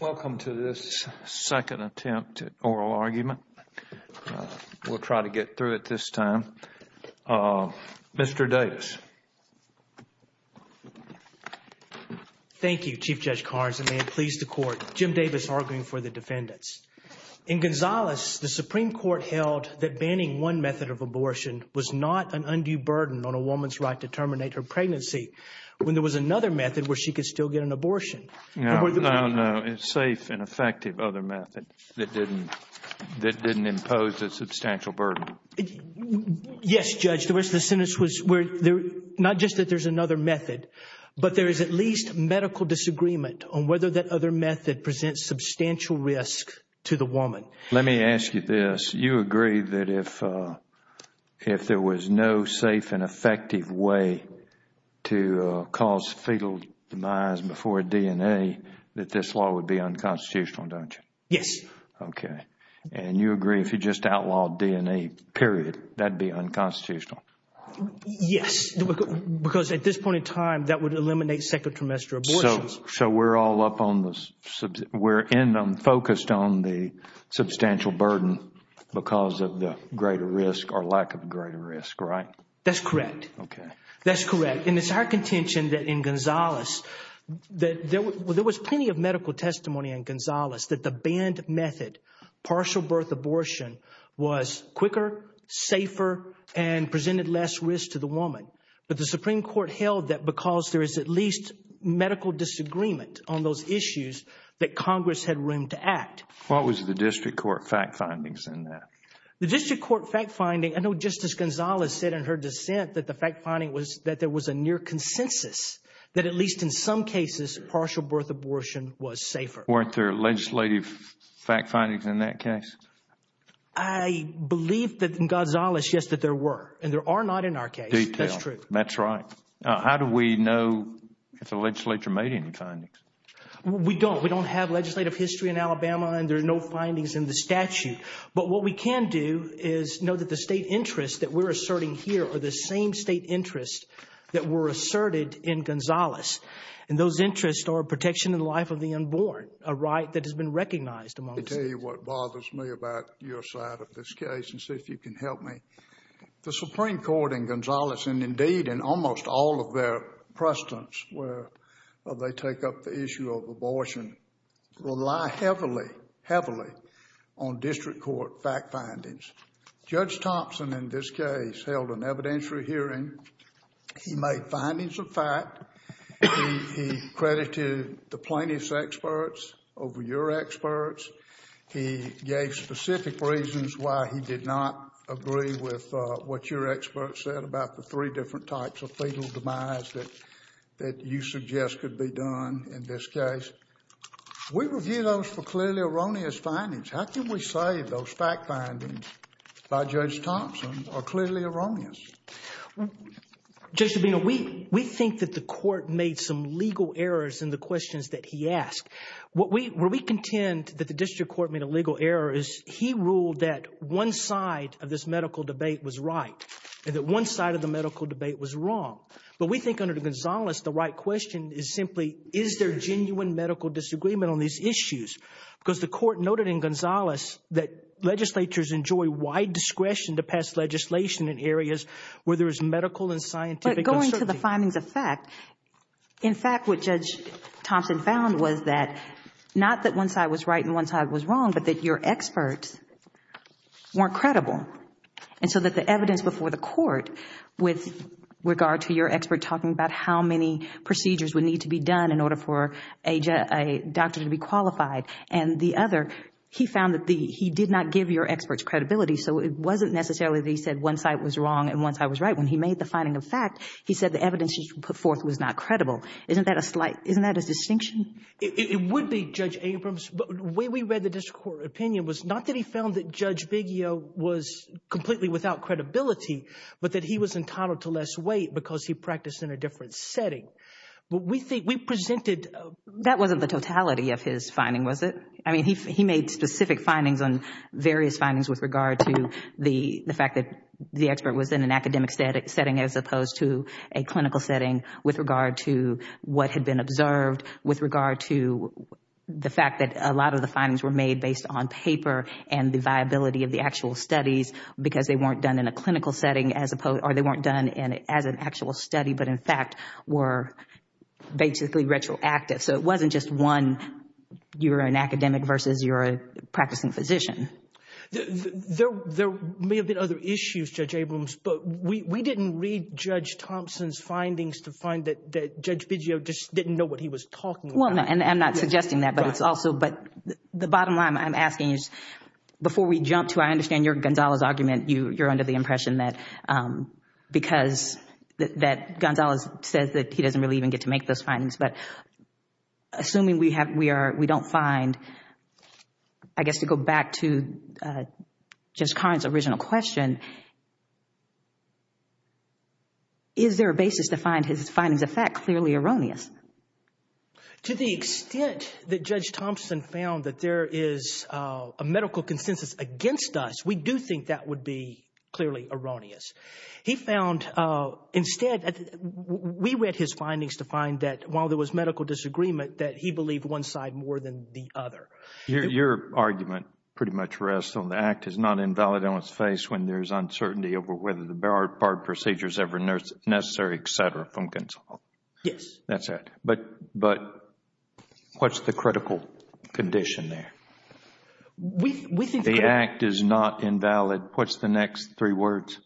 Welcome to this second attempt at oral argument. We'll try to get through it this time. Mr. Davis. Thank you, Chief Judge Carnes, and may it please the Court. Jim Davis arguing for the defendants. In Gonzales, the Supreme Court held that banning one method of abortion was not an undue burden on a woman's right to terminate her pregnancy when there was another method where she could still get an abortion. No, no, no. A safe and effective other method that didn't impose a substantial burden. Yes, Judge. The rest of the sentence was not just that there's another method, but there is at least medical disagreement on whether that other method presents substantial risk to the woman. Let me ask you this. You agree that if there was no safe and effective way to cause fetal demise before DNA, that this law would be unconstitutional, don't you? Yes. Okay. And you agree if you just outlawed DNA, period, that would be unconstitutional? Yes, because at this point in time, that would eliminate second trimester abortions. So we're all up on the – we're focused on the substantial burden because of the greater risk or lack of greater risk, right? That's correct. Okay. That's correct. And it's our contention that in Gonzales, that there was plenty of medical testimony in Gonzales that the banned method, partial birth abortion, was quicker, safer, and presented less risk to the woman. But the Supreme Court held that because there is at least medical disagreement on those issues, that Congress had room to act. What was the district court fact findings in that? The district court fact finding – I know Justice Gonzales said in her dissent that the fact finding was that there was a near consensus that at least in some cases, partial birth abortion was safer. Weren't there legislative fact findings in that case? I believe that in Gonzales, yes, that there were. And there are not in our case. Detail. That's true. That's right. How do we know if the legislature made any findings? We don't. We don't have legislative history in Alabama, and there are no findings in the statute. But what we can do is know that the state interests that we're asserting here are the same state interests that were asserted in Gonzales. And those interests are protection of the life of the unborn, a right that has been recognized among the states. Let me tell you what bothers me about your side of this case and see if you can help me. The Supreme Court in Gonzales, and indeed in almost all of their precedents where they take up the issue of abortion, rely heavily, heavily on district court fact findings. Judge Thompson in this case held an evidentiary hearing. He made findings of fact. He credited the plaintiffs' experts over your experts. He gave specific reasons why he did not agree with what your experts said about the three different types of fetal demise that you suggest could be done in this case. We review those for clearly erroneous findings. How can we say those fact findings by Judge Thompson are clearly erroneous? Judge Sabino, we think that the court made some legal errors in the questions that he asked. Where we contend that the district court made a legal error is he ruled that one side of this medical debate was right and that one side of the medical debate was wrong. But we think under Gonzales the right question is simply is there genuine medical disagreement on these issues? Because the court noted in Gonzales that legislatures enjoy wide discretion to pass legislation in areas where there is medical and scientific uncertainty. In fact, what Judge Thompson found was that not that one side was right and one side was wrong, but that your experts weren't credible. And so that the evidence before the court with regard to your expert talking about how many procedures would need to be done in order for a doctor to be qualified and the other, he found that he did not give your experts credibility. So it wasn't necessarily that he said one side was wrong and one side was right. When he made the finding of fact, he said the evidence he put forth was not credible. Isn't that a slight, isn't that a distinction? It would be, Judge Abrams. But the way we read the district court opinion was not that he found that Judge Biggio was completely without credibility, but that he was entitled to less weight because he practiced in a different setting. But we think, we presented. That wasn't the totality of his finding, was it? I mean, he made specific findings on various findings with regard to the fact that the expert was in an academic setting as opposed to a clinical setting with regard to what had been observed, with regard to the fact that a lot of the findings were made based on paper and the viability of the actual studies because they weren't done in a clinical setting as opposed, or they weren't done as an actual study, but in fact were basically retroactive. So it wasn't just one, you're an academic versus you're a practicing physician. There may have been other issues, Judge Abrams, but we didn't read Judge Thompson's findings to find that Judge Biggio just didn't know what he was talking about. Well, and I'm not suggesting that, but it's also, but the bottom line I'm asking is, before we jump to I understand your Gonzales argument, you're under the impression that because, that Gonzales says that he doesn't really even get to make those findings. But assuming we don't find, I guess to go back to Judge Karn's original question, is there a basis to find his findings of fact clearly erroneous? To the extent that Judge Thompson found that there is a medical consensus against us, we do think that would be clearly erroneous. He found, instead, we read his findings to find that while there was medical disagreement, that he believed one side more than the other. Your argument pretty much rests on the act is not invalid on its face when there is uncertainty over whether the barred procedure is ever necessary, et cetera, from Gonzales. Yes. That's it. But what's the critical condition there? The act is not invalid. What's the next three words?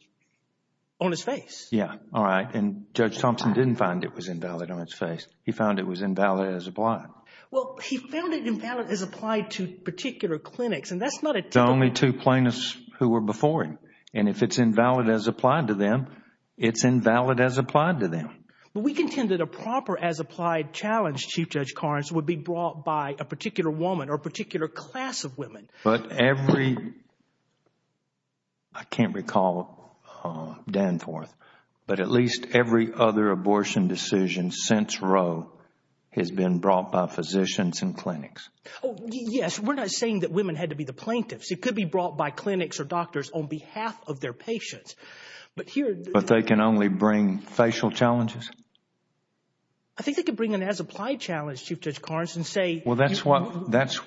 On its face. Yes. All right. And Judge Thompson didn't find it was invalid on its face. He found it was invalid as applied. Well, he found it invalid as applied to particular clinics, and that's not a typical… The only two plaintiffs who were before him. And if it's invalid as applied to them, it's invalid as applied to them. But we contend that a proper as applied challenge, Chief Judge Karns, would be brought by a particular woman or a particular class of women. But every – I can't recall, Danforth, but at least every other abortion decision since Roe has been brought by physicians and clinics. Yes. We're not saying that women had to be the plaintiffs. It could be brought by clinics or doctors on behalf of their patients. But here… But they can only bring facial challenges? I think they could bring an as applied challenge, Chief Judge Karns, and say… Well, that's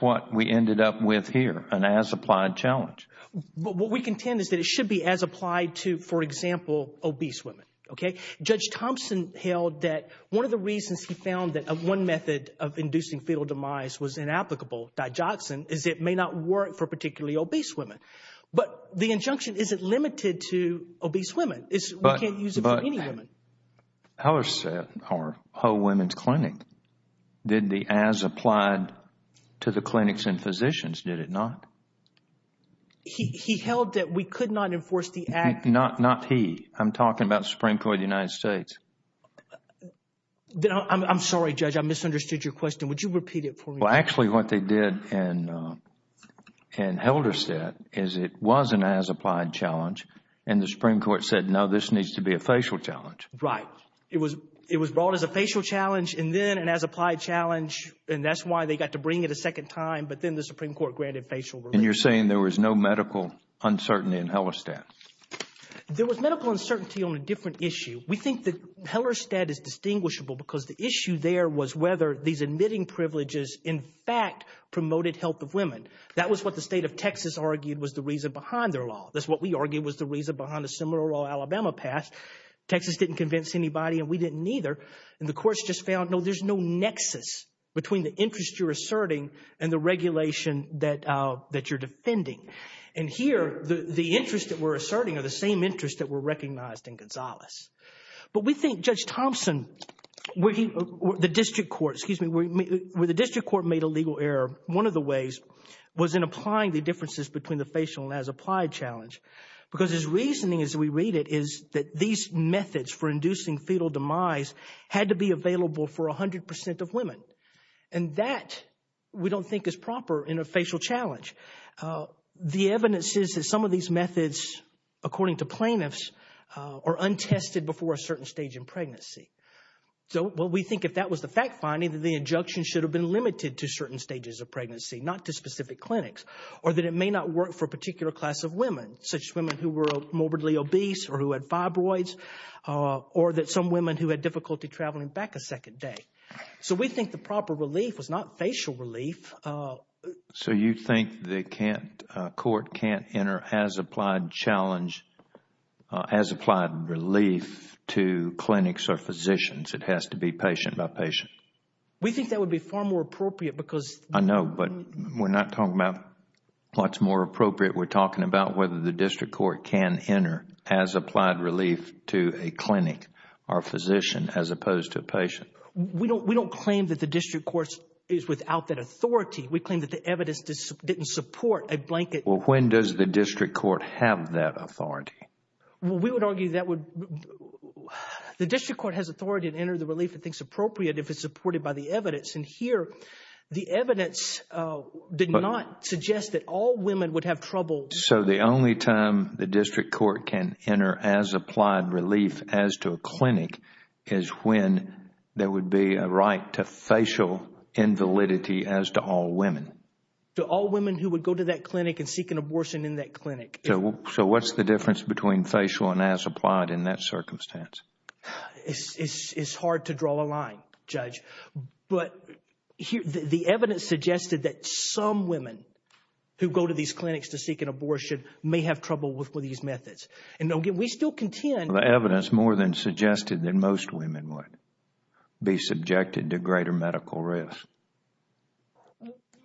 what we ended up with here, an as applied challenge. But what we contend is that it should be as applied to, for example, obese women. Okay? Judge Thompson held that one of the reasons he found that one method of inducing fetal demise was inapplicable, digoxin, is it may not work for particularly obese women. But the injunction isn't limited to obese women. We can't use it for any women. Helderstead, our whole women's clinic, did the as applied to the clinics and physicians, did it not? He held that we could not enforce the act… Not he. I'm talking about the Supreme Court of the United States. I'm sorry, Judge. I misunderstood your question. Would you repeat it for me? Well, actually, what they did in Helderstead is it was an as applied challenge, and the Supreme Court said, no, this needs to be a facial challenge. Right. It was brought as a facial challenge, and then an as applied challenge, and that's why they got to bring it a second time. But then the Supreme Court granted facial relief. And you're saying there was no medical uncertainty in Helderstead? There was medical uncertainty on a different issue. We think that Helderstead is distinguishable because the issue there was whether these admitting privileges in fact promoted health of women. That was what the state of Texas argued was the reason behind their law. That's what we argued was the reason behind the Seminole or Alabama pass. Texas didn't convince anybody, and we didn't either. And the courts just found, no, there's no nexus between the interest you're asserting and the regulation that you're defending. And here, the interests that we're asserting are the same interests that were recognized in Gonzales. But we think Judge Thompson, where the district court made a legal error, one of the ways was in applying the differences between the facial and as applied challenge. Because his reasoning, as we read it, is that these methods for inducing fetal demise had to be available for 100% of women. And that we don't think is proper in a facial challenge. The evidence is that some of these methods, according to plaintiffs, are untested before a certain stage in pregnancy. So what we think, if that was the fact finding, that the injunction should have been limited to certain stages of pregnancy, not to specific clinics, or that it may not work for a particular class of women, such as women who were morbidly obese or who had fibroids, or that some women who had difficulty traveling back a second day. So we think the proper relief was not facial relief. So you think the court can't enter as applied challenge, as applied relief to clinics or physicians. It has to be patient by patient. We think that would be far more appropriate because I know, but we're not talking about what's more appropriate. We're talking about whether the district court can enter as applied relief to a clinic or physician as opposed to a patient. We don't claim that the district court is without that authority. We claim that the evidence didn't support a blanket. Well, when does the district court have that authority? Well, we would argue that the district court has authority to enter the relief it thinks appropriate if it's supported by the evidence. And here the evidence did not suggest that all women would have trouble. So the only time the district court can enter as applied relief as to a clinic is when there would be a right to facial invalidity as to all women. To all women who would go to that clinic and seek an abortion in that clinic. So what's the difference between facial and as applied in that circumstance? It's hard to draw a line, Judge. But the evidence suggested that some women who go to these clinics to seek an abortion may have trouble with these methods. And we still contend. The evidence more than suggested that most women would be subjected to greater medical risk.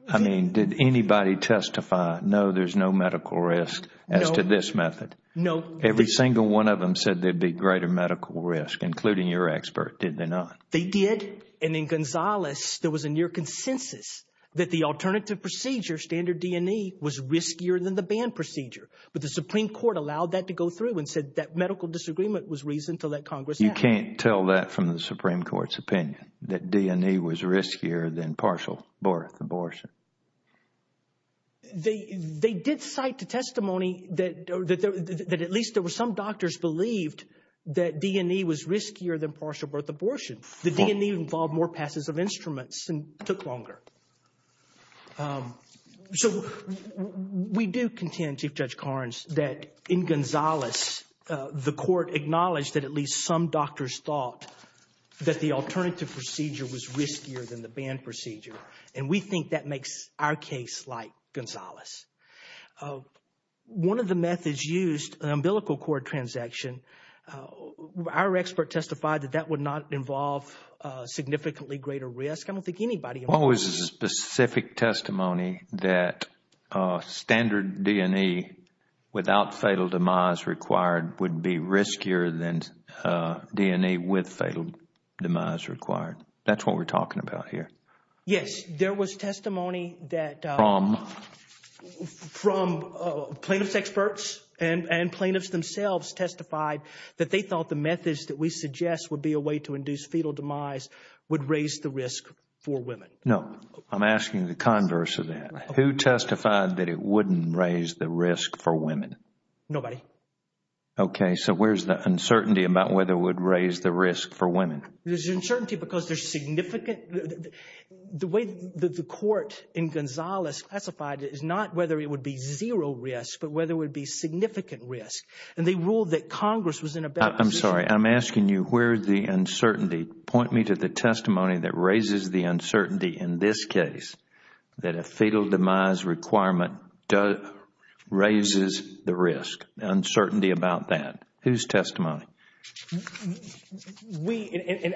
I mean, did anybody testify, no, there's no medical risk as to this method? No. Every single one of them said there'd be greater medical risk, including your expert, did they not? They did. And in Gonzales, there was a near consensus that the alternative procedure, standard D&E, was riskier than the banned procedure. But the Supreme Court allowed that to go through and said that medical disagreement was reason to let Congress have it. You can't tell that from the Supreme Court's opinion, that D&E was riskier than partial birth, abortion. They did cite the testimony that at least there were some doctors believed that D&E was riskier than partial birth, abortion. The D&E involved more passes of instruments and took longer. So we do contend, Chief Judge Carnes, that in Gonzales, the court acknowledged that at least some doctors thought that the alternative procedure was riskier than the banned procedure. And we think that makes our case like Gonzales. One of the methods used, an umbilical cord transaction, our expert testified that that would not involve significantly greater risk. I don't think anybody involved. What was the specific testimony that standard D&E without fatal demise required would be riskier than D&E with fatal demise required? That's what we're talking about here. Yes, there was testimony that... From? From plaintiff's experts and plaintiffs themselves testified that they thought the methods that we suggest would be a way to induce fatal demise would raise the risk for women. No, I'm asking the converse of that. Who testified that it wouldn't raise the risk for women? Nobody. Okay, so where's the uncertainty about whether it would raise the risk for women? There's uncertainty because there's significant... The way the court in Gonzales classified it is not whether it would be zero risk, but whether it would be significant risk. And they ruled that Congress was in a better position... I'm sorry. I'm asking you where's the uncertainty. Point me to the testimony that raises the uncertainty in this case that a fatal demise requirement raises the risk. Uncertainty about that. Whose testimony?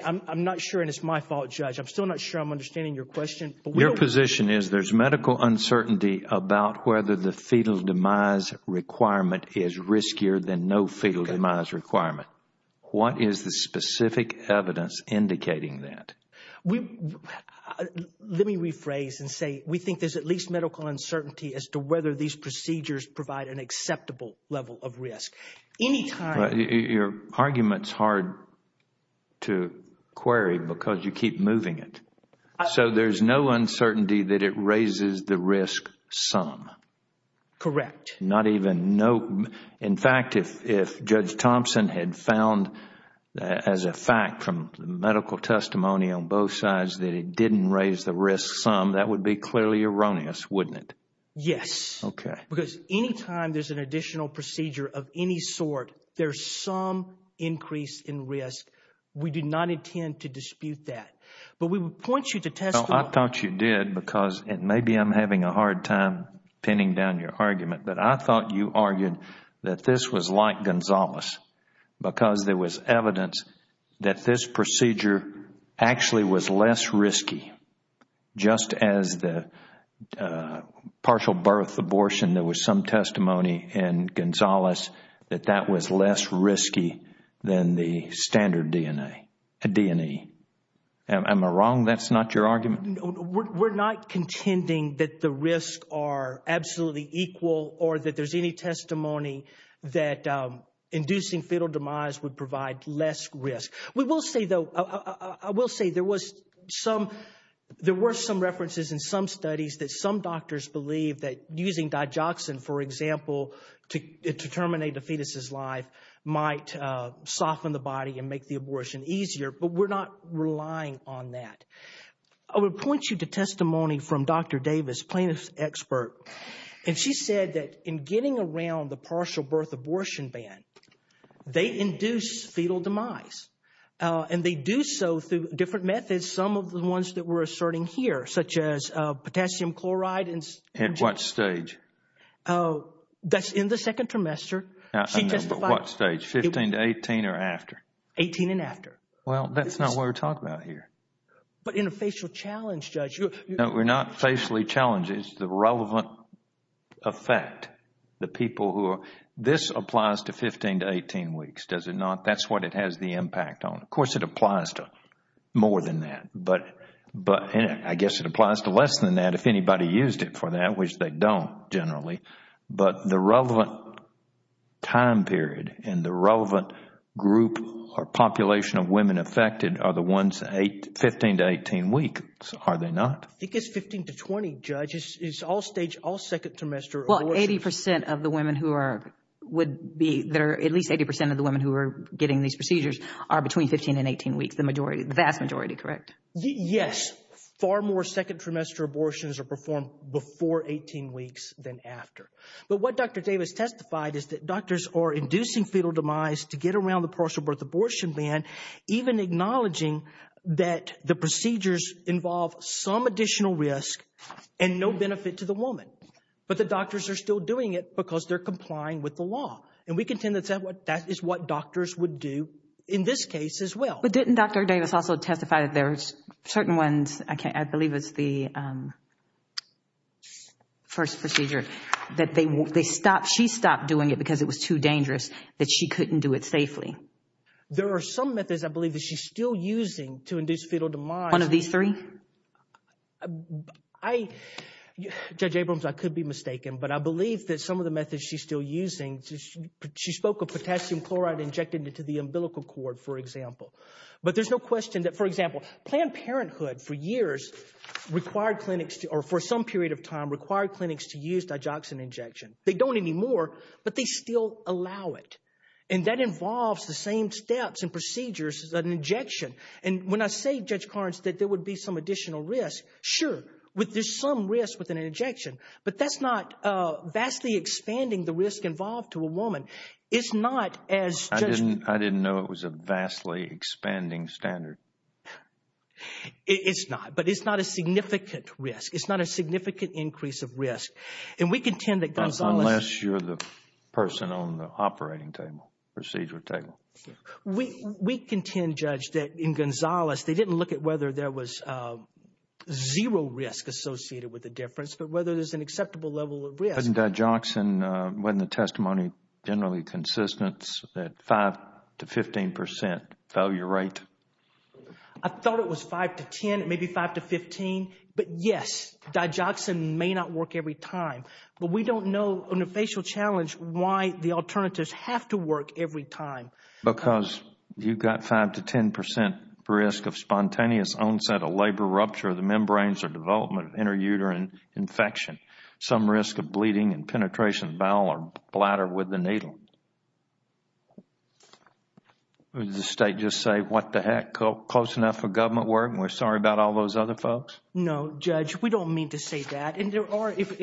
I'm not sure, and it's my fault, Judge. I'm still not sure I'm understanding your question. Your position is there's medical uncertainty about whether the fatal demise requirement is riskier than no fatal demise requirement. What is the specific evidence indicating that? Let me rephrase and say we think there's at least medical uncertainty as to whether these procedures provide an acceptable level of risk. Your argument is hard to query because you keep moving it. So there's no uncertainty that it raises the risk some? Correct. Not even no... In fact, if Judge Thompson had found as a fact from medical testimony on both sides that it didn't raise the risk some, that would be clearly erroneous, wouldn't it? Yes. Okay. Because any time there's an additional procedure of any sort, there's some increase in risk. We do not intend to dispute that. But we would point you to testimony... I thought you did because maybe I'm having a hard time pinning down your argument, but I thought you argued that this was like Gonzales because there was evidence that this procedure actually was less risky, just as the partial birth abortion, there was some testimony in Gonzales that that was less risky than the standard DNA, a DNA. Am I wrong that's not your argument? We're not contending that the risks are absolutely equal or that there's any testimony that inducing fatal demise would provide less risk. We will say, though, I will say there were some references in some studies that some doctors believe that using digoxin, for example, to terminate a fetus's life might soften the body and make the abortion easier, but we're not relying on that. I would point you to testimony from Dr. Davis, plaintiff's expert, and she said that in getting around the partial birth abortion ban, they induce fetal demise, and they do so through different methods, some of the ones that we're asserting here, such as potassium chloride and... At what stage? That's in the second trimester. At what stage, 15 to 18 or after? 18 and after. Well, that's not what we're talking about here. But in a facial challenge, Judge... No, we're not facially challenging. It's the relevant effect. The people who are... This applies to 15 to 18 weeks, does it not? That's what it has the impact on. Of course, it applies to more than that, but I guess it applies to less than that if anybody used it for that, which they don't generally. But the relevant time period and the relevant group or population of women affected are the ones 15 to 18 weeks, are they not? I think it's 15 to 20, Judge. It's all stage, all second trimester abortions. Well, 80% of the women who would be there, at least 80% of the women who are getting these procedures, are between 15 and 18 weeks, the vast majority, correct? Yes. Far more second trimester abortions are performed before 18 weeks than after. But what Dr. Davis testified is that doctors are inducing fetal demise to get around the partial birth abortion ban, even acknowledging that the procedures involve some additional risk and no benefit to the woman. But the doctors are still doing it because they're complying with the law. And we contend that that is what doctors would do in this case as well. But didn't Dr. Davis also testify that there's certain ones, I believe it's the first procedure, that they stopped, she stopped doing it because it was too dangerous, that she couldn't do it safely? There are some methods I believe that she's still using to induce fetal demise. One of these three? Judge Abrams, I could be mistaken, but I believe that some of the methods she's still using, she spoke of potassium chloride injected into the umbilical cord, for example. But there's no question that, for example, Planned Parenthood for years required clinics, or for some period of time, required clinics to use digoxin injection. They don't anymore, but they still allow it. And that involves the same steps and procedures as an injection. And when I say, Judge Carnes, that there would be some additional risk, sure, there's some risk with an injection, but that's not vastly expanding the risk involved to a woman. It's not as Judge – I didn't know it was a vastly expanding standard. It's not, but it's not a significant risk. It's not a significant increase of risk. And we contend that Gonzales – Procedure table. We contend, Judge, that in Gonzales, they didn't look at whether there was zero risk associated with the difference, but whether there's an acceptable level of risk. But in digoxin, wasn't the testimony generally consistent that 5 to 15 percent failure rate? I thought it was 5 to 10, maybe 5 to 15. But yes, digoxin may not work every time. But we don't know, on a facial challenge, why the alternatives have to work every time. Because you've got 5 to 10 percent risk of spontaneous onset of labor rupture of the membranes or development of interuterine infection. Some risk of bleeding and penetration of bowel or bladder with the needle. Does the State just say, what the heck, close enough for government work, and we're sorry about all those other folks? No, Judge, we don't mean to say that. And there are, if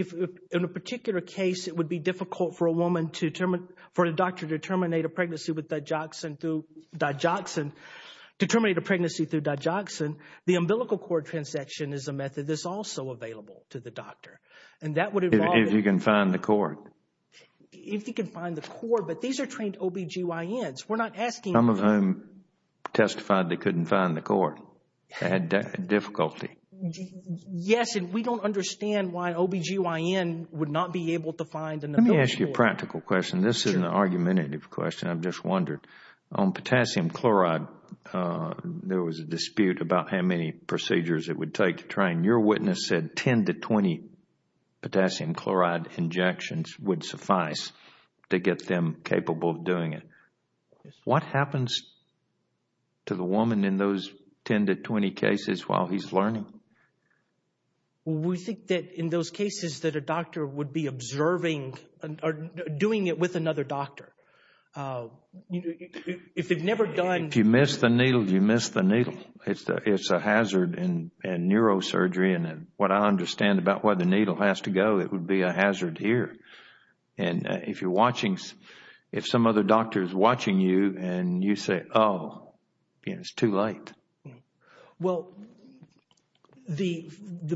in a particular case it would be difficult for a woman to – for a doctor to terminate a pregnancy with digoxin through digoxin, to terminate a pregnancy through digoxin, the umbilical cord transection is a method that's also available to the doctor. And that would involve – If you can find the cord. If you can find the cord. But these are trained OBGYNs. We're not asking – Some of whom testified they couldn't find the cord. They had difficulty. Yes, and we don't understand why an OBGYN would not be able to find an umbilical cord. Let me ask you a practical question. This is an argumentative question, I've just wondered. On potassium chloride, there was a dispute about how many procedures it would take to train. Your witness said 10 to 20 potassium chloride injections would suffice to get them capable of doing it. What happens to the woman in those 10 to 20 cases while he's learning? We think that in those cases that a doctor would be observing or doing it with another doctor. If they've never done – If you miss the needle, you miss the needle. It's a hazard in neurosurgery. And what I understand about where the needle has to go, it would be a hazard here. And if you're watching – If some other doctor is watching you and you say, oh, it's too late. Well, the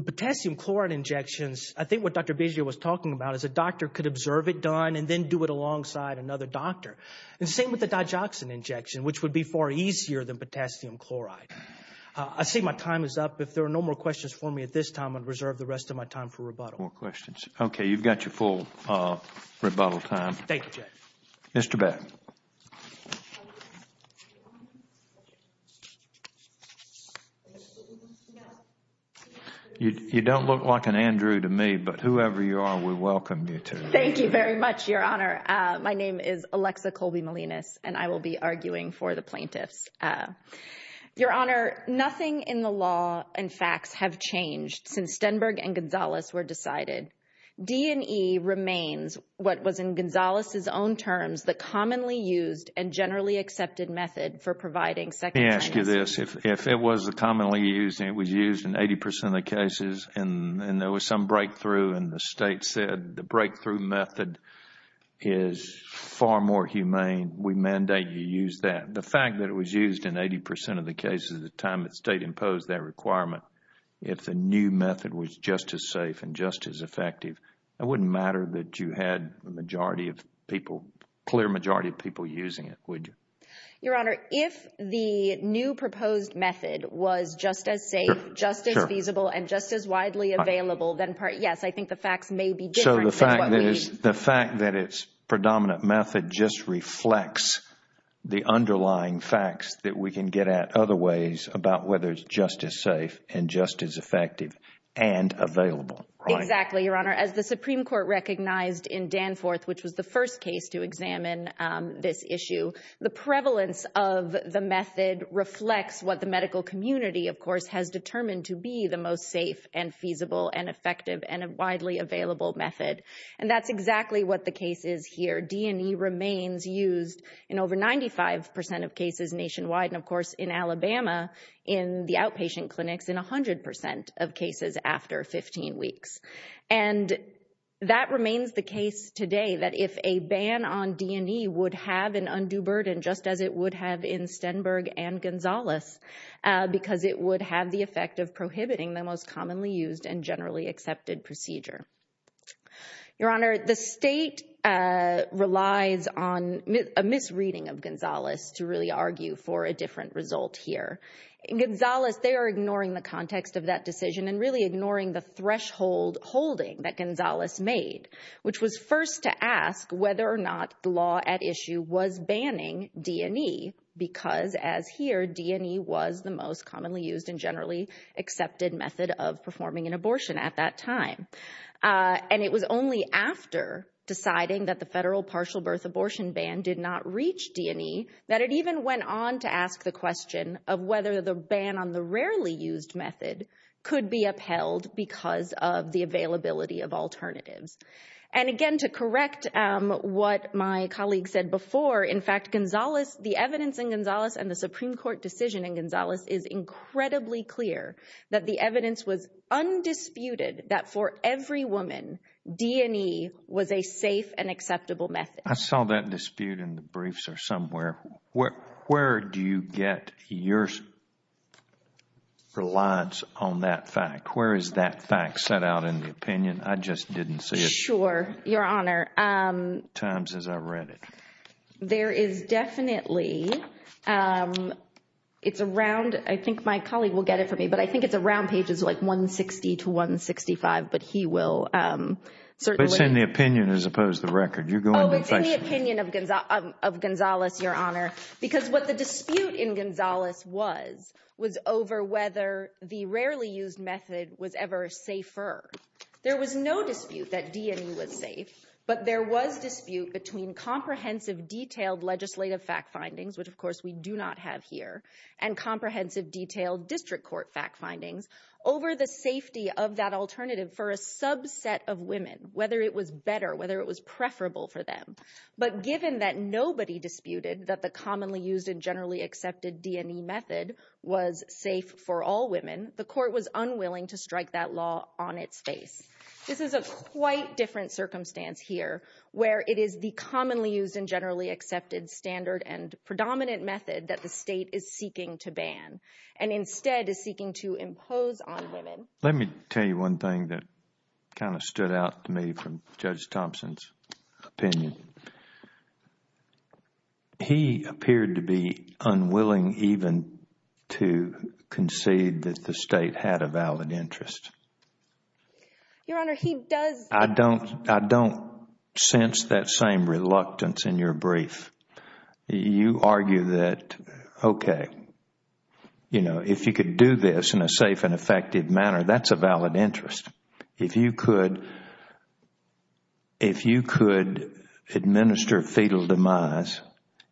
potassium chloride injections, I think what Dr. Bezier was talking about is a doctor could observe it done and then do it alongside another doctor. And same with the digoxin injection, which would be far easier than potassium chloride. I see my time is up. If there are no more questions for me at this time, More questions. Okay, you've got your full rebuttal time. Thank you, Jeff. Mr. Beck. You don't look like an Andrew to me, but whoever you are, we welcome you to. Thank you very much, Your Honor. My name is Alexa Colby Melinas, and I will be arguing for the plaintiffs. Your Honor, nothing in the law and facts have changed since Stenberg and Gonzales were decided. D&E remains what was, in Gonzales' own terms, the commonly used and generally accepted method for providing second chances. Let me ask you this. If it was commonly used and it was used in 80 percent of the cases and there was some breakthrough and the state said the breakthrough method is far more humane, we mandate you use that. The fact that it was used in 80 percent of the cases at the time that the state imposed that requirement, if the new method was just as safe and just as effective, it wouldn't matter that you had a majority of people, a clear majority of people using it, would you? Your Honor, if the new proposed method was just as safe, just as feasible, and just as widely available, then yes, I think the facts may be different. So the fact that its predominant method just reflects the underlying facts that we can get at other ways about whether it's just as safe and just as effective and available. Exactly, Your Honor. As the Supreme Court recognized in Danforth, which was the first case to examine this issue, the prevalence of the method reflects what the medical community, of course, has determined to be the most safe and feasible and effective and a widely available method. And that's exactly what the case is here. D&E remains used in over 95 percent of cases nationwide, and of course in Alabama, in the outpatient clinics, in 100 percent of cases after 15 weeks. And that remains the case today, that if a ban on D&E would have an undue burden, just as it would have in Stenberg and Gonzales, because it would have the effect of prohibiting the most commonly used and generally accepted procedure. Your Honor, the state relies on a misreading of Gonzales to really argue for a different result here. In Gonzales, they are ignoring the context of that decision and really ignoring the threshold holding that Gonzales made, which was first to ask whether or not the law at issue was banning D&E, because as here, D&E was the most commonly used and generally accepted method of performing an abortion at that time. And it was only after deciding that the federal partial birth abortion ban did not reach D&E that it even went on to ask the question of whether the ban on the rarely used method could be upheld because of the availability of alternatives. And again, to correct what my colleague said before, in fact, the evidence in Gonzales and the Supreme Court decision in Gonzales is incredibly clear that the evidence was undisputed that for every woman, D&E was a safe and acceptable method. I saw that dispute in the briefs or somewhere. Where do you get your reliance on that fact? Where is that fact set out in the opinion? I just didn't see it. Sure, Your Honor. Times as I read it. There is definitely, it's around, I think my colleague will get it for me, but I think it's around pages like 160 to 165, but he will certainly. It's in the opinion as opposed to the record. Oh, it's in the opinion of Gonzales, Your Honor, because what the dispute in Gonzales was was over whether the rarely used method was ever safer. There was no dispute that D&E was safe, but there was dispute between comprehensive detailed legislative fact findings, which of course we do not have here, and comprehensive detailed district court fact findings over the safety of that alternative for a subset of women, whether it was better, whether it was preferable for them. But given that nobody disputed that the commonly used and generally accepted D&E method was safe for all women, the court was unwilling to strike that law on its face. This is a quite different circumstance here where it is the commonly used and generally accepted standard and predominant method that the state is seeking to ban and instead is seeking to impose on women. Let me tell you one thing that kind of stood out to me from Judge Thompson's opinion. He appeared to be unwilling even to concede that the state had a valid interest. Your Honor, he does. I don't sense that same reluctance in your brief. You argue that, okay, if you could do this in a safe and effective manner, that is a valid interest. If you could administer fetal demise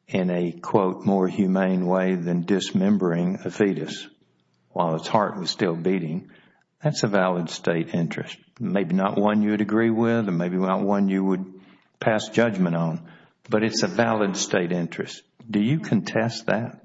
in a, quote, more humane way than dismembering a fetus while its heart was still beating, that is a valid state interest. Maybe not one you would agree with and maybe not one you would pass judgment on, but it's a valid state interest. Do you contest that?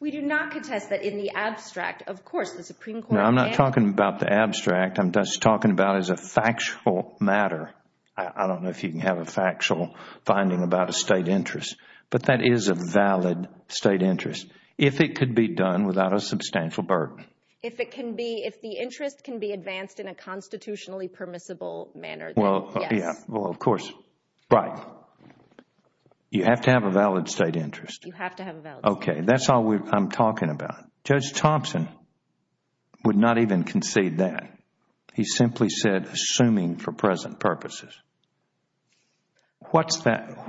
We do not contest that in the abstract. Of course, the Supreme Court can't. No, I'm not talking about the abstract. I'm just talking about as a factual matter. I don't know if you can have a factual finding about a state interest, but that is a valid state interest if it could be done without a substantial burden. If the interest can be advanced in a constitutionally permissible manner, then yes. Yeah, well, of course, right. You have to have a valid state interest. You have to have a valid state interest. Okay, that's all I'm talking about. Judge Thompson would not even concede that. He simply said assuming for present purposes. What's the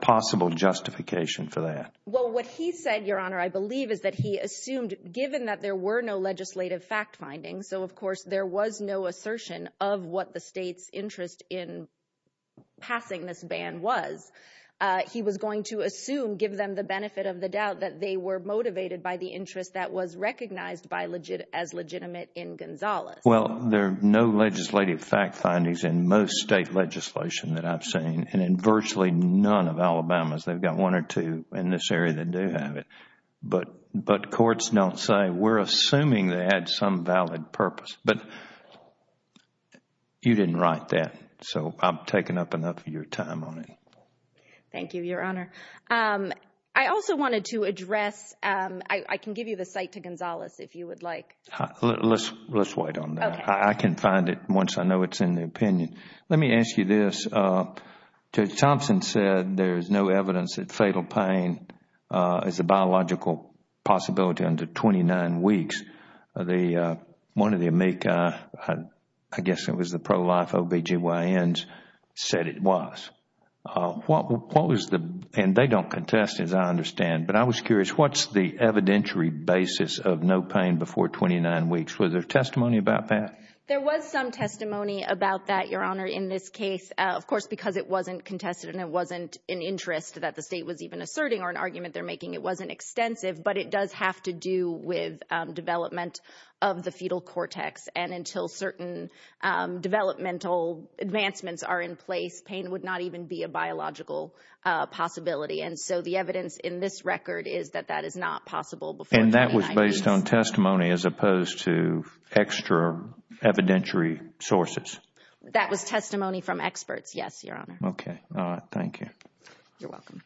possible justification for that? Well, what he said, Your Honor, I believe, is that he assumed given that there were no legislative fact findings, so, of course, there was no assertion of what the state's interest in passing this ban was. He was going to assume, give them the benefit of the doubt, that they were motivated by the interest that was recognized as legitimate in Gonzales. Well, there are no legislative fact findings in most state legislation that I've seen, and in virtually none of Alabama's. They've got one or two in this area that do have it. But courts don't say we're assuming they had some valid purpose. But you didn't write that, so I've taken up enough of your time on it. Thank you, Your Honor. I also wanted to address, I can give you the cite to Gonzales if you would like. Let's wait on that. I can find it once I know it's in the opinion. Let me ask you this. Judge Thompson said there is no evidence that fatal pain is a biological possibility under 29 weeks. One of the amici, I guess it was the pro-life OBGYNs, said it was. And they don't contest, as I understand. But I was curious, what's the evidentiary basis of no pain before 29 weeks? Was there testimony about that? There was some testimony about that, Your Honor, in this case. Of course, because it wasn't contested and it wasn't an interest that the state was even asserting or an argument they're making, it wasn't extensive. But it does have to do with development of the fetal cortex. And until certain developmental advancements are in place, pain would not even be a biological possibility. And so the evidence in this record is that that is not possible before 29 weeks. And that was based on testimony as opposed to extra evidentiary sources? That was testimony from experts, yes, Your Honor. Okay. All right. Thank you. You're welcome.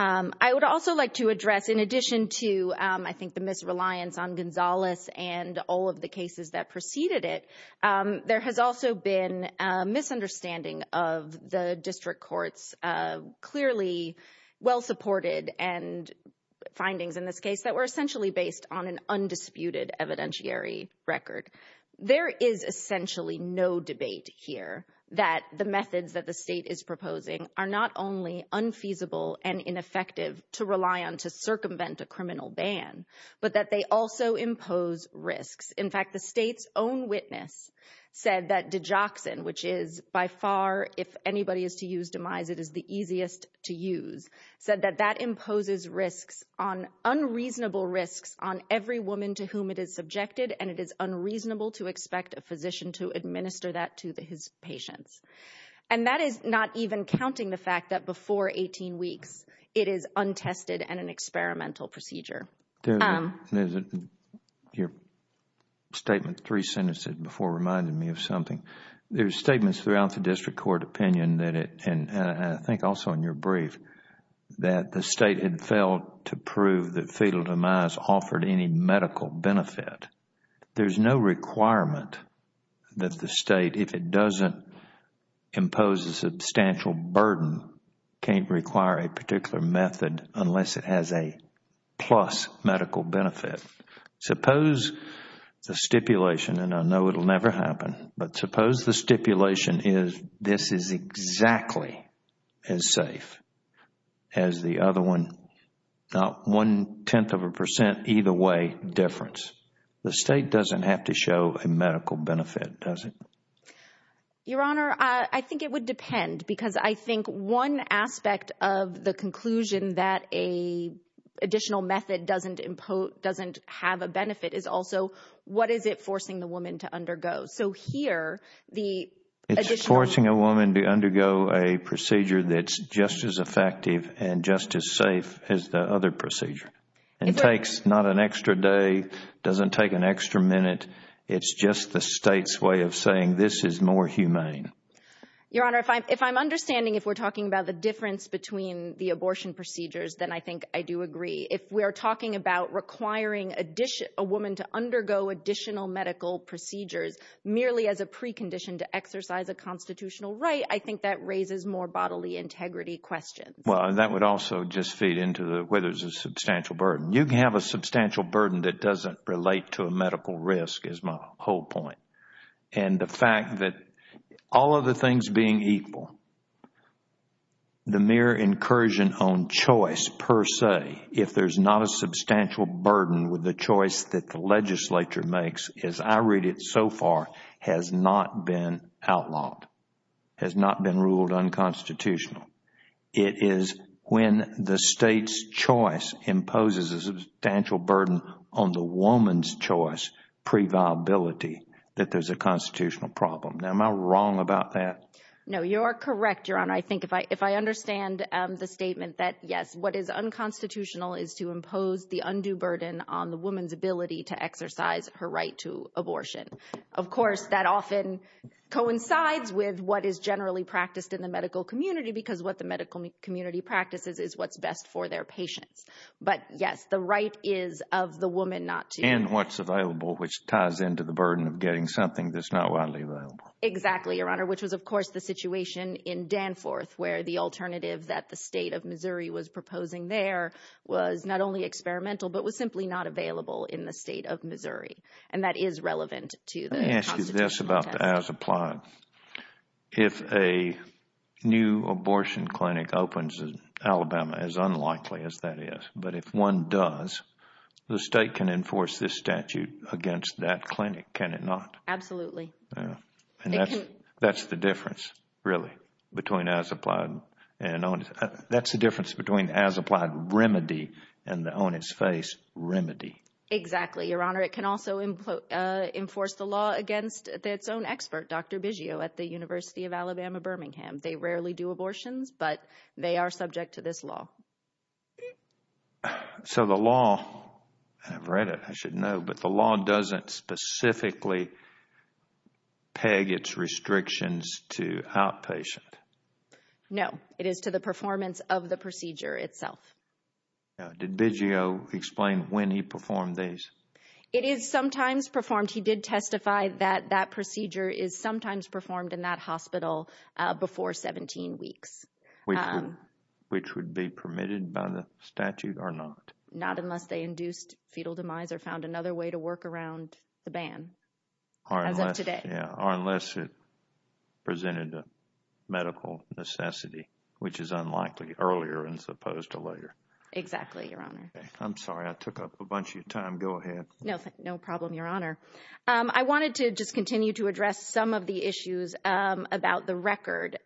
I would also like to address, in addition to, I think, the misreliance on Gonzales and all of the cases that preceded it, there has also been a misunderstanding of the district courts, clearly well-supported findings in this case that were essentially based on an undisputed evidentiary record. There is essentially no debate here that the methods that the state is proposing are not only unfeasible and ineffective to rely on to circumvent a criminal ban, but that they also impose risks. In fact, the state's own witness said that digoxin, which is by far, if anybody is to use demise, it is the easiest to use, said that that imposes risks, unreasonable risks, on every woman to whom it is subjected. And it is unreasonable to expect a physician to administer that to his patients. And that is not even counting the fact that before 18 weeks, it is untested and an experimental procedure. Your statement three sentences before reminded me of something. There are statements throughout the district court opinion, and I think also in your brief, that the state had failed to prove that fetal demise offered any medical benefit. There is no requirement that the state, if it doesn't impose a substantial burden, can't require a particular method unless it has a plus medical benefit. Suppose the stipulation, and I know it will never happen, but suppose the stipulation is this is exactly as safe as the other one, not one-tenth of a percent, either way, difference. The state doesn't have to show a medical benefit, does it? Your Honor, I think it would depend, because I think one aspect of the conclusion that an additional method doesn't have a benefit is also what is it forcing the woman to undergo. So here, the additional... It's forcing a woman to undergo a procedure that's just as effective and just as safe as the other procedure. It takes not an extra day, doesn't take an extra minute. It's just the state's way of saying this is more humane. Your Honor, if I'm understanding, if we're talking about the difference between the abortion procedures, then I think I do agree. If we are talking about requiring a woman to undergo additional medical procedures merely as a precondition to exercise a constitutional right, I think that raises more bodily integrity questions. Well, that would also just feed into whether there's a substantial burden. You can have a substantial burden that doesn't relate to a medical risk is my whole point. And the fact that all of the things being equal, the mere incursion on choice per se, if there's not a substantial burden with the choice that the legislature makes, as I read it so far, has not been outlawed, has not been ruled unconstitutional. It is when the state's choice imposes a substantial burden on the woman's choice previability that there's a constitutional problem. Now, am I wrong about that? No, you're correct, Your Honor. I think if I understand the statement that, yes, what is unconstitutional is to impose the undue burden on the woman's ability to exercise her right to abortion. Of course, that often coincides with what is generally practiced in the medical community because what the medical community practices is what's best for their patients. But, yes, the right is of the woman not to. And what's available, which ties into the burden of getting something that's not widely available. Exactly, Your Honor, which was, of course, the situation in Danforth where the alternative that the state of Missouri was proposing there was not only experimental but was simply not available in the state of Missouri. And that is relevant to the constitutional test. Let me ask you this about the as-applied. If a new abortion clinic opens in Alabama, as unlikely as that is, but if one does, the state can enforce this statute against that clinic, can it not? Absolutely. And that's the difference, really, between as-applied. That's the difference between the as-applied remedy and the on-its-face remedy. Exactly, Your Honor. It can also enforce the law against its own expert, Dr. Biggio, at the University of Alabama-Birmingham. They rarely do abortions, but they are subject to this law. So the law, and I've read it, I should know, but the law doesn't specifically peg its restrictions to outpatient. No, it is to the performance of the procedure itself. Now, did Biggio explain when he performed these? It is sometimes performed. He did testify that that procedure is sometimes performed in that hospital before 17 weeks. Which would be permitted by the statute or not? Not unless they induced fetal demise or found another way to work around the ban, as of today. Or unless it presented a medical necessity, which is unlikely, earlier as opposed to later. Exactly, Your Honor. I'm sorry, I took up a bunch of your time. Go ahead. No problem, Your Honor. I wanted to just continue to address some of the issues about the record.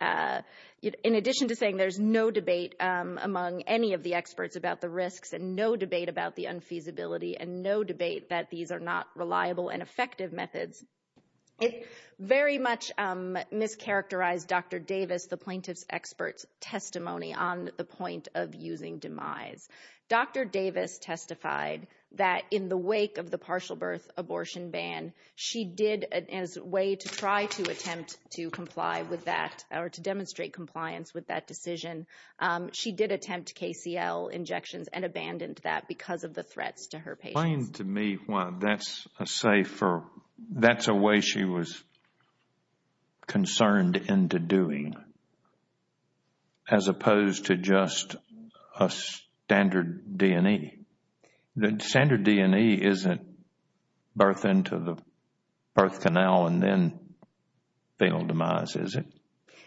In addition to saying there's no debate among any of the experts about the risks, and no debate about the unfeasibility, and no debate that these are not reliable and effective methods, it very much mischaracterized Dr. Davis, the plaintiff's expert's testimony, on the point of using demise. Dr. Davis testified that in the wake of the partial birth abortion ban, she did, as a way to try to attempt to comply with that, or to demonstrate compliance with that decision, she did attempt KCL injections and abandoned that because of the threats to her patients. Applying to me, that's a way she was concerned into doing, as opposed to just a standard D&E. Standard D&E isn't birth into the birth canal and then fatal demise, is it?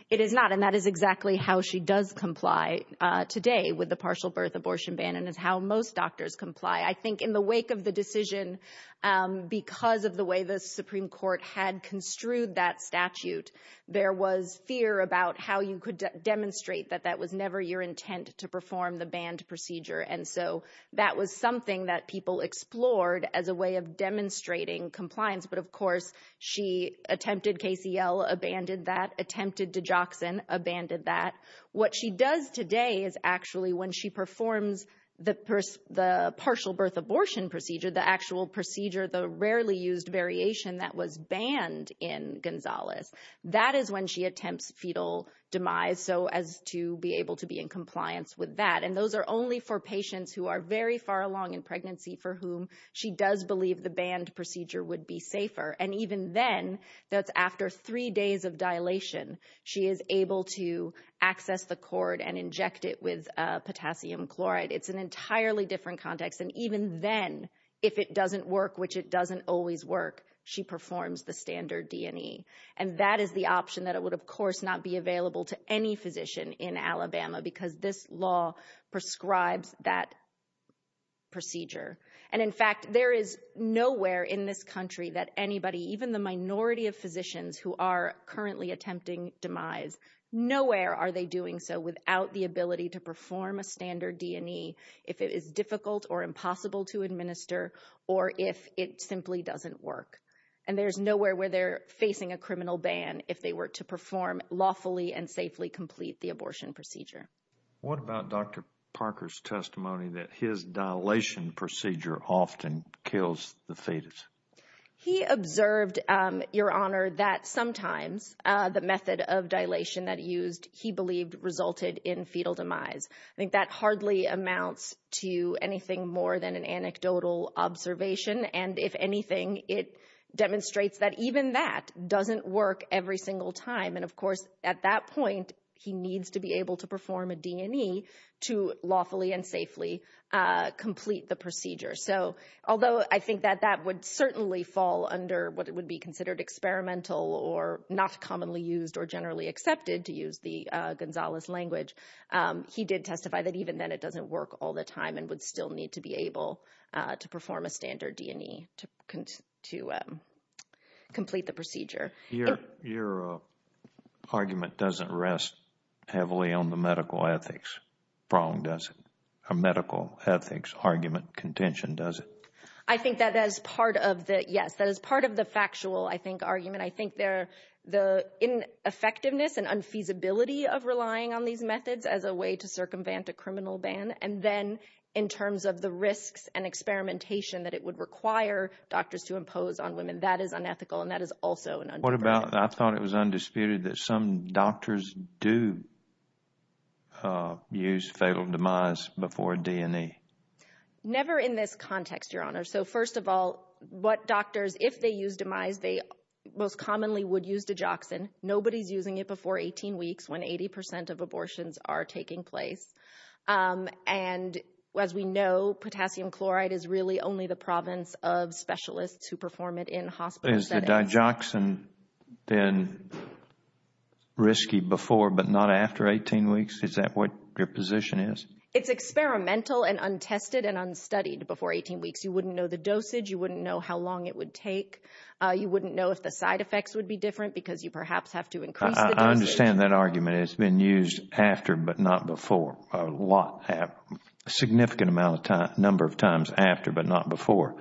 It is not, and that is exactly how she does comply today with the partial birth abortion ban, and is how most doctors comply. I think in the wake of the decision, because of the way the Supreme Court had construed that statute, there was fear about how you could demonstrate that that was never your intent to perform the banned procedure. And so that was something that people explored as a way of demonstrating compliance. But, of course, she attempted KCL, abandoned that, attempted Digoxin, abandoned that. What she does today is actually when she performs the partial birth abortion procedure, the actual procedure, the rarely used variation that was banned in Gonzales, that is when she attempts fetal demise so as to be able to be in compliance with that. And those are only for patients who are very far along in pregnancy for whom she does believe the banned procedure would be safer. And even then, that's after three days of dilation, she is able to access the cord and inject it with potassium chloride. It's an entirely different context. And even then, if it doesn't work, which it doesn't always work, she performs the standard D&E. And that is the option that would, of course, not be available to any physician in Alabama because this law prescribes that procedure. And, in fact, there is nowhere in this country that anybody, even the minority of physicians who are currently attempting demise, nowhere are they doing so without the ability to perform a standard D&E if it is difficult or impossible to administer or if it simply doesn't work. And there's nowhere where they're facing a criminal ban if they were to perform lawfully and safely complete the abortion procedure. What about Dr. Parker's testimony that his dilation procedure often kills the fetus? He observed, Your Honor, that sometimes the method of dilation that he used, he believed, resulted in fetal demise. I think that hardly amounts to anything more than an anecdotal observation. And, if anything, it demonstrates that even that doesn't work every single time. And, of course, at that point, he needs to be able to perform a D&E to lawfully and safely complete the procedure. So although I think that that would certainly fall under what would be considered experimental or not commonly used or generally accepted, to use the Gonzales language, he did testify that even then it doesn't work all the time and would still need to be able to perform a standard D&E to complete the procedure. Your argument doesn't rest heavily on the medical ethics prong, does it? A medical ethics argument contention, does it? I think that is part of the factual, I think, argument. I think the effectiveness and unfeasibility of relying on these methods as a way to circumvent a criminal ban and then in terms of the risks and experimentation that it would require doctors to impose on women, that is unethical and that is also an understatement. What about, I thought it was undisputed, that some doctors do use fetal demise before D&E? Never in this context, Your Honor. So, first of all, what doctors, if they use demise, they most commonly would use Dijoxin. Nobody is using it before 18 weeks when 80% of abortions are taking place. And, as we know, potassium chloride is really only the province of specialists who perform it in hospital settings. Has the Dijoxin been risky before but not after 18 weeks? Is that what your position is? It's experimental and untested and unstudied before 18 weeks. You wouldn't know the dosage. You wouldn't know how long it would take. You wouldn't know if the side effects would be different because you perhaps have to increase the dosage. I understand that argument. It's been used after but not before. A significant number of times after but not before.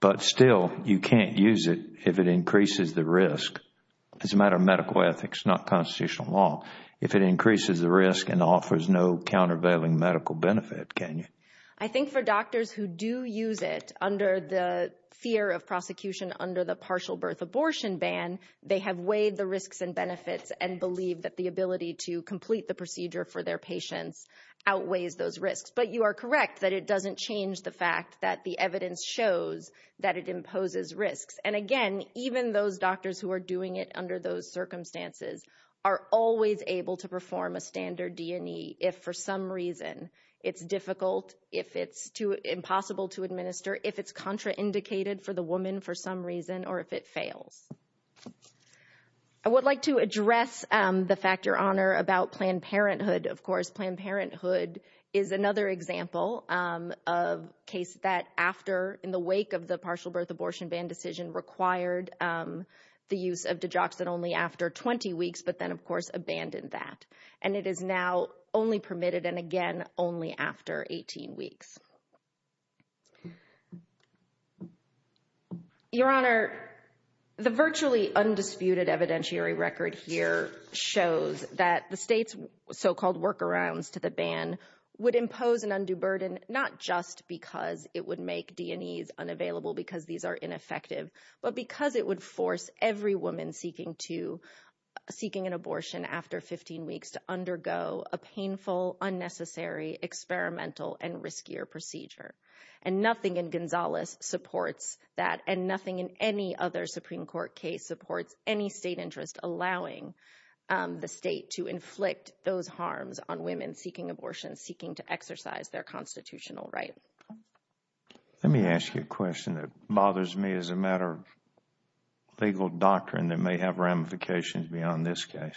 But still, you can't use it if it increases the risk. It's a matter of medical ethics, not constitutional law. If it increases the risk and offers no countervailing medical benefit, can you? I think for doctors who do use it under the fear of prosecution under the partial birth abortion ban, they have weighed the risks and benefits and believe that the ability to complete the procedure for their patients outweighs those risks. But you are correct that it doesn't change the fact that the evidence shows that it imposes risks. And, again, even those doctors who are doing it under those circumstances are always able to perform a standard D&E if, for some reason, it's difficult, if it's impossible to administer, if it's contraindicated for the woman for some reason, or if it fails. I would like to address the fact, Your Honor, about Planned Parenthood. Of course, Planned Parenthood is another example of a case that, in the wake of the partial birth abortion ban decision, required the use of Digoxin only after 20 weeks, but then, of course, abandoned that. And it is now only permitted, and again, only after 18 weeks. Your Honor, the virtually undisputed evidentiary record here shows that the state's so-called workarounds to the ban would impose an undue burden not just because it would make D&Es unavailable because these are ineffective, but because it would force every woman seeking an abortion after 15 weeks to undergo a painful, unnecessary, experimental, and riskier procedure. And nothing in Gonzales supports that, and nothing in any other Supreme Court case supports any state interest allowing the state to inflict those harms on women seeking abortion, seeking to exercise their constitutional right. Let me ask you a question that bothers me as a matter of legal doctrine that may have ramifications beyond this case.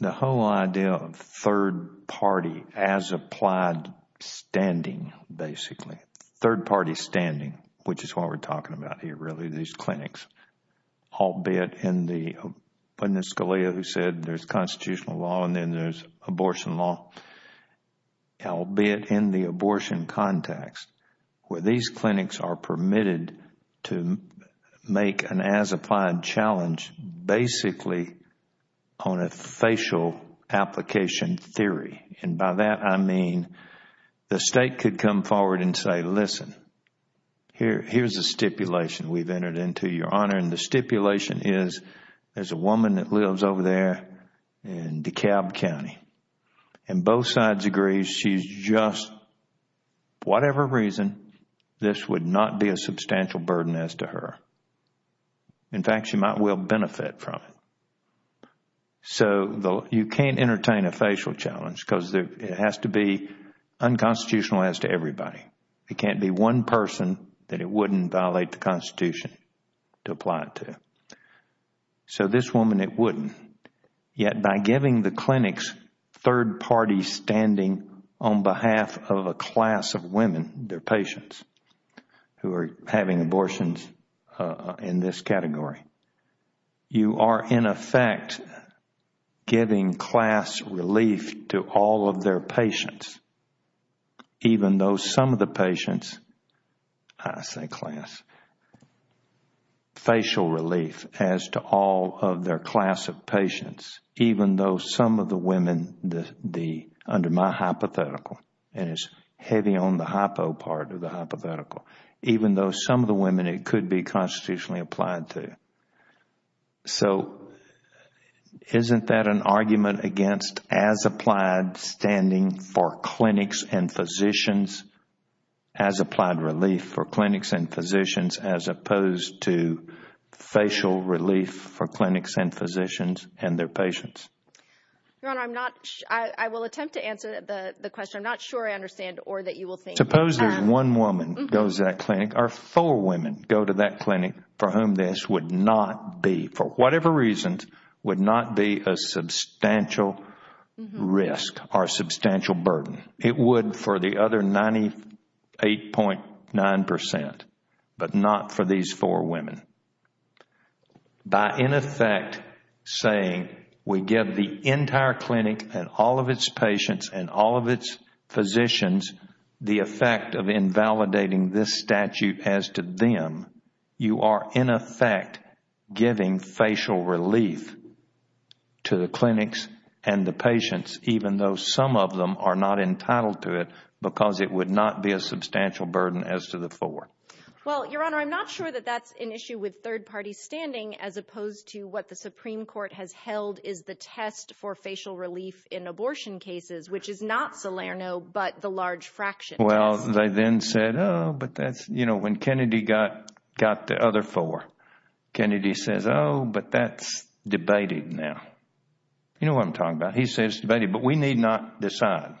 The whole idea of third-party, as-applied standing, basically, third-party standing, which is what we're talking about here, really, these clinics, albeit in the, when Scalia said there's constitutional law and then there's abortion law, albeit in the abortion context, where these clinics are permitted to make an as-applied challenge basically on a facial application theory. And by that, I mean the state could come forward and say, listen, here's a stipulation we've entered into, Your Honor, and the stipulation is there's a woman that lives over there in DeKalb County, and both sides agree she's just, whatever reason, this would not be a substantial burden as to her. In fact, she might well benefit from it. So you can't entertain a facial challenge because it has to be unconstitutional as to everybody. It can't be one person that it wouldn't violate the Constitution to apply it to. So this woman, it wouldn't. Yet by giving the clinics third-party standing on behalf of a class of women, their patients who are having abortions in this category, you are, in effect, giving class relief to all of their patients, even though some of the patients, I say class, facial relief as to all of their class of patients, even though some of the women under my hypothetical, and it's heavy on the hypo part of the hypothetical, even though some of the women it could be constitutionally applied to. So isn't that an argument against as-applied standing for clinics and physicians, as-applied relief for clinics and physicians, as opposed to facial relief for clinics and physicians and their patients? Your Honor, I will attempt to answer the question. I'm not sure I understand or that you will think. Suppose that one woman goes to that clinic, or four women go to that clinic for whom this would not be, for whatever reasons, would not be a substantial risk or substantial burden. It would for the other 98.9 percent, but not for these four women. By, in effect, saying we give the entire clinic and all of its patients and all of its physicians the effect of invalidating this statute as to them, you are, in effect, giving facial relief to the clinics and the patients, even though some of them are not entitled to it because it would not be a substantial burden as to the four. Well, Your Honor, I'm not sure that that's an issue with third-party standing as opposed to what the Supreme Court has held is the test for facial relief in abortion cases, which is not Salerno but the large fraction test. Well, they then said, oh, but that's, you know, when Kennedy got the other four, Kennedy says, oh, but that's debated now. You know what I'm talking about. He says it's debated, but we need not decide.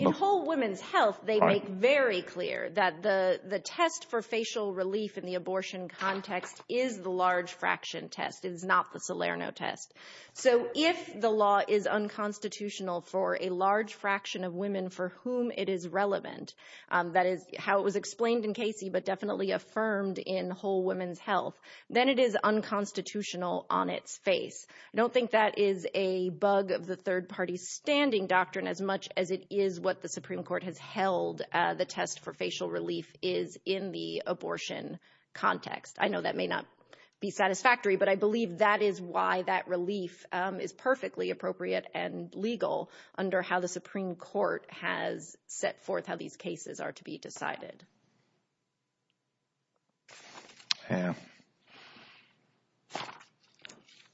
In whole women's health, they make very clear that the test for facial relief in the abortion context is the large fraction test. It is not the Salerno test. So if the law is unconstitutional for a large fraction of women for whom it is relevant, that is how it was explained in Casey but definitely affirmed in whole women's health, then it is unconstitutional on its face. I don't think that is a bug of the third-party standing doctrine as much as it is what the Supreme Court has held the test for facial relief is in the abortion context. I know that may not be satisfactory, but I believe that is why that relief is perfectly appropriate and legal under how the Supreme Court has set forth how these cases are to be decided.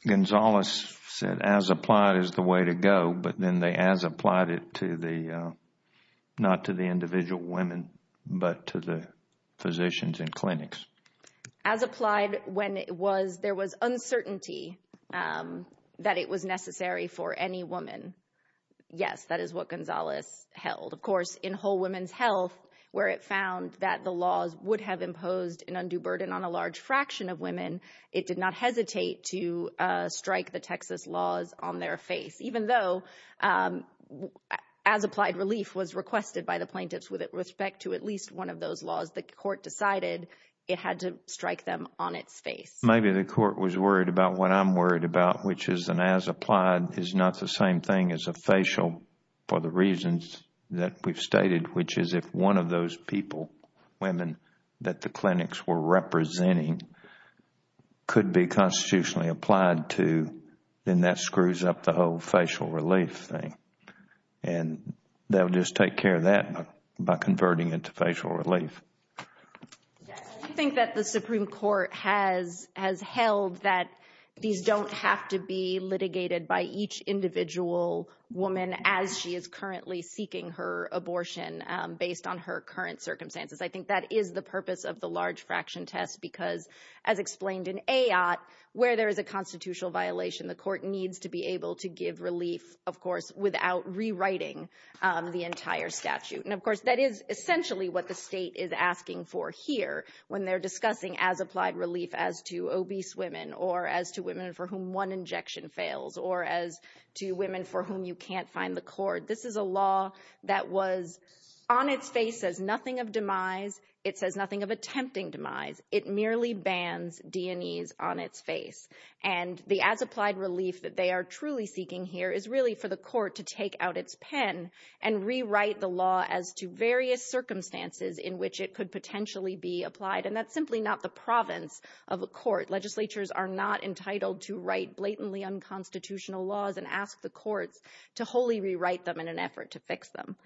Gonzales said as applied is the way to go, but then they as applied it to the, not to the individual women, but to the physicians in clinics. As applied when there was uncertainty that it was necessary for any woman, yes, that is what Gonzales held. Of course, in whole women's health where it found that the laws would have imposed an undue burden on a large fraction of women, it did not hesitate to strike the Texas laws on their face. Even though as applied relief was requested by the plaintiffs with respect to at least one of those laws, the court decided it had to strike them on its face. Maybe the court was worried about what I am worried about, which is an as applied is not the same thing as a facial for the reasons that we have stated, which is if one of those people, women, that the clinics were representing could be constitutionally applied to, then that screws up the whole facial relief thing. They will just take care of that by converting it to facial relief. Do you think that the Supreme Court has held that these do not have to be litigated by each individual woman as she is currently seeking her abortion based on her current circumstances? I think that is the purpose of the large fraction test because as explained in AOT, where there is a constitutional violation, the court needs to be able to give relief, of course, without rewriting the entire statute. Of course, that is essentially what the state is asking for here when they are discussing as applied relief as to obese women or as to women for whom one injection fails or as to women for whom you cannot find the cord. This is a law that was on its face, says nothing of demise. It says nothing of attempting demise. It merely bans D&Es on its face. The as applied relief that they are truly seeking here is really for the court to take out its pen and rewrite the law as to various circumstances in which it could potentially be applied. That is simply not the province of a court. Legislatures are not entitled to write blatantly unconstitutional laws and ask the courts to wholly rewrite them in an effort to fix them.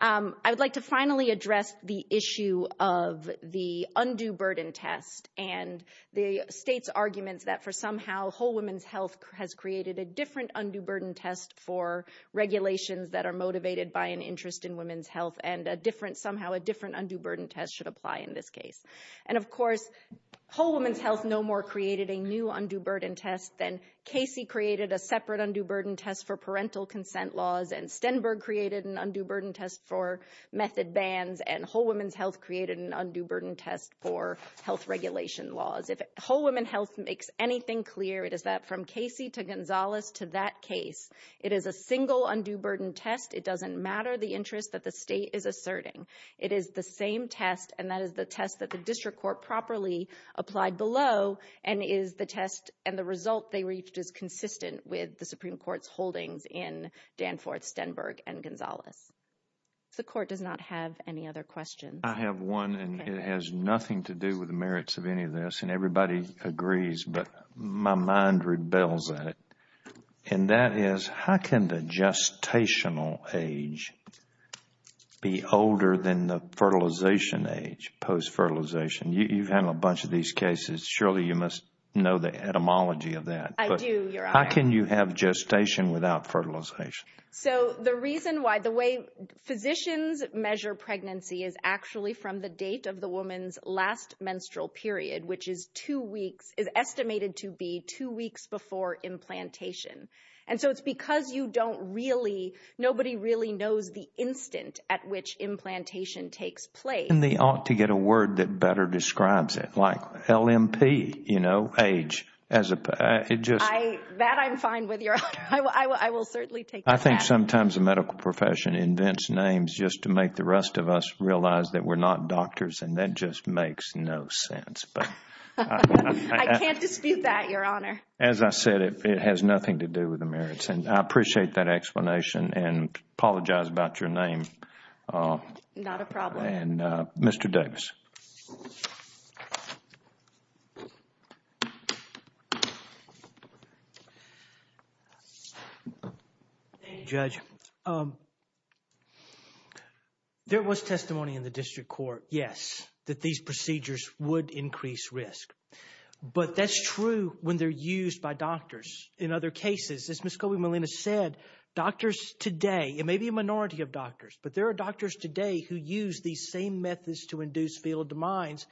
I would like to finally address the issue of the undue burden test and the state's arguments that for somehow Whole Women's Health has created a different undue burden test for regulations that are motivated by an interest in women's health and somehow a different undue burden test should apply in this case. Of course, Whole Women's Health no more created a new undue burden test than Casey created a separate undue burden test for parental consent laws and Stenberg created an undue burden test for method bans and Whole Women's Health created an undue burden test for health regulation laws. If Whole Women's Health makes anything clear, it is that from Casey to Gonzalez to that case, it is a single undue burden test. It doesn't matter the interest that the state is asserting. It is the same test and that is the test that the district court properly applied below and is the test and the result they reached is consistent with the Supreme Court's holdings in Danforth, Stenberg, and Gonzalez. The court does not have any other questions. I have one and it has nothing to do with the merits of any of this and everybody agrees but my mind rebels at it. And that is how can the gestational age be older than the fertilization age, post-fertilization? You've handled a bunch of these cases. Surely you must know the etymology of that. I do, Your Honor. How can you have gestation without fertilization? So the reason why the way physicians measure pregnancy is actually from the date of the woman's last menstrual period which is estimated to be two weeks before implantation. And so it's because nobody really knows the instant at which implantation takes place. And they ought to get a word that better describes it like LMP, you know, age. That I'm fine with, Your Honor. I will certainly take that. I think sometimes the medical profession invents names just to make the rest of us realize that we're not doctors and that just makes no sense. I can't dispute that, Your Honor. As I said, it has nothing to do with the merits. And I appreciate that explanation and apologize about your name. Not a problem. And Mr. Davis. Thank you, Judge. There was testimony in the district court, yes, that these procedures would increase risk. But that's true when they're used by doctors. In other cases, as Ms. Colby-Molina said, doctors today, it may be a minority of doctors, but there are doctors today who use these same methods to induce fetal demise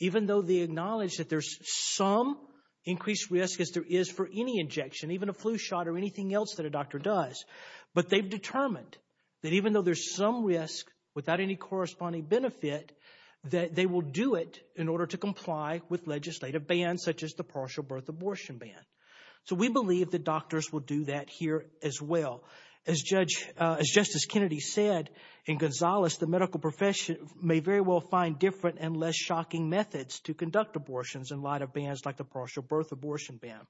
even though they acknowledge that there's some increased risk as there is for any injection, even a flu shot or anything else that a doctor does. But they've determined that even though there's some risk without any corresponding benefit, that they will do it in order to comply with legislative bans such as the partial birth abortion ban. So we believe that doctors will do that here as well. As Justice Kennedy said in Gonzales, the medical profession may very well find different and less shocking methods to conduct abortions in light of bans like the partial birth abortion ban.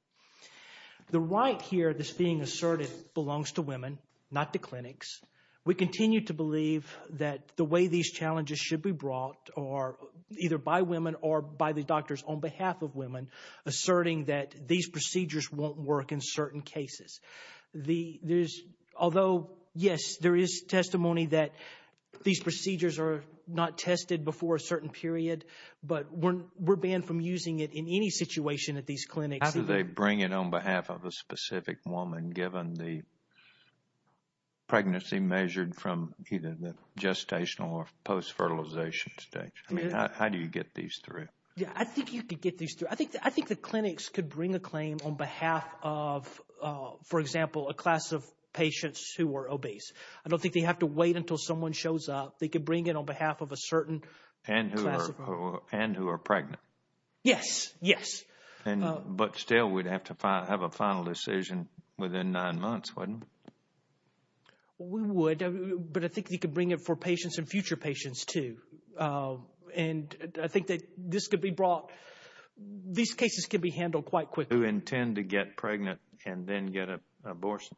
The right here that's being asserted belongs to women, not to clinics. We continue to believe that the way these challenges should be brought are either by women or by the doctors on behalf of women asserting that these procedures won't work in certain cases. Although, yes, there is testimony that these procedures are not tested before a certain period, but we're banned from using it in any situation at these clinics. How do they bring it on behalf of a specific woman, given the pregnancy measured from either the gestational or post-fertilization stage? I mean, how do you get these through? Yeah, I think you could get these through. I think the clinics could bring a claim on behalf of, for example, a class of patients who are obese. I don't think they have to wait until someone shows up. They could bring it on behalf of a certain class of women. And who are pregnant. Yes, yes. But still, we'd have to have a final decision within nine months, wouldn't we? We would, but I think they could bring it for patients and future patients too. And I think that this could be brought. These cases can be handled quite quickly. Who intend to get pregnant and then get an abortion?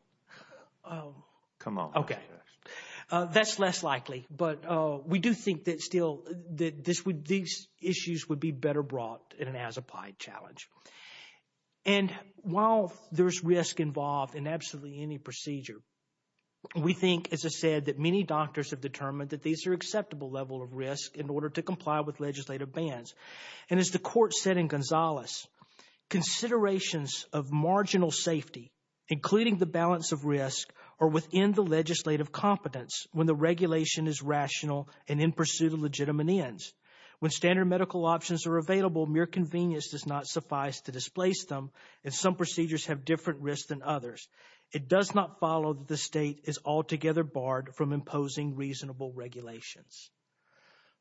Come on. Okay. That's less likely. But we do think that still these issues would be better brought in an as-applied challenge. And while there's risk involved in absolutely any procedure, we think, as I said, that many doctors have determined that these are an acceptable level of risk in order to comply with legislative bans. And as the court said in Gonzales, Considerations of marginal safety, including the balance of risk, are within the legislative competence when the regulation is rational and in pursuit of legitimate ends. When standard medical options are available, mere convenience does not suffice to displace them, and some procedures have different risks than others. It does not follow that the state is altogether barred from imposing reasonable regulations.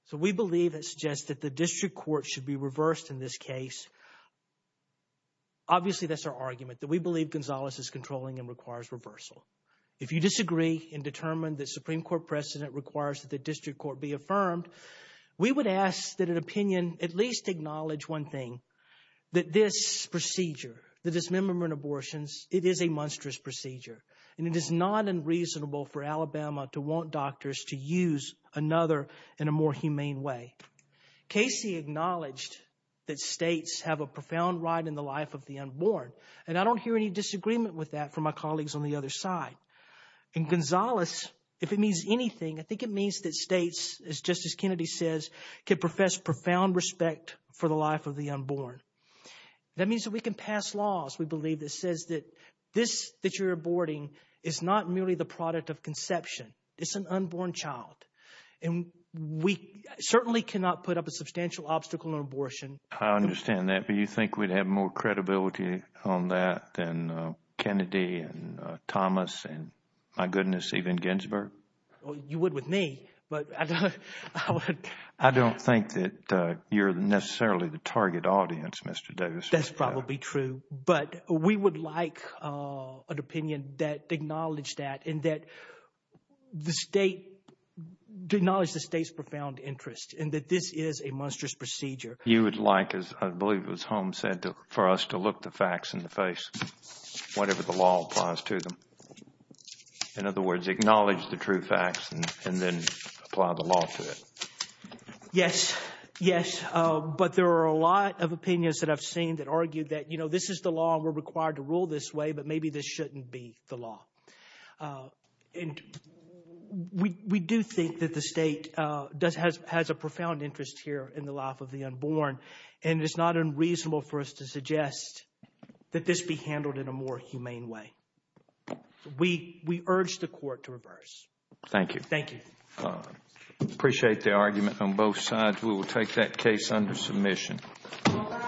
So we believe it suggests that the district court should be reversed in this case. Obviously, that's our argument, that we believe Gonzales is controlling and requires reversal. If you disagree and determine that Supreme Court precedent requires that the district court be affirmed, we would ask that an opinion at least acknowledge one thing, that this procedure, the dismemberment abortions, it is a monstrous procedure. And it is not unreasonable for Alabama to want doctors to use another in a more humane way. Casey acknowledged that states have a profound right in the life of the unborn, and I don't hear any disagreement with that from my colleagues on the other side. In Gonzales, if it means anything, I think it means that states, as Justice Kennedy says, can profess profound respect for the life of the unborn. That means that we can pass laws, we believe, that says that this that you're aborting is not merely the product of conception. It's an unborn child. And we certainly cannot put up a substantial obstacle in abortion. I understand that, but you think we'd have more credibility on that than Kennedy and Thomas and, my goodness, even Ginsburg? You would with me, but I don't – That's probably true. But we would like an opinion that acknowledged that and that the state – acknowledged the state's profound interest and that this is a monstrous procedure. You would like, as I believe it was Holmes said, for us to look the facts in the face, whatever the law applies to them. In other words, acknowledge the true facts and then apply the law to it. Yes, yes. But there are a lot of opinions that I've seen that argue that this is the law and we're required to rule this way, but maybe this shouldn't be the law. And we do think that the state does – has a profound interest here in the life of the unborn. And it's not unreasonable for us to suggest that this be handled in a more humane way. We urge the court to reverse. Thank you. Thank you. Appreciate the argument on both sides. We will take that case under submission. All rise.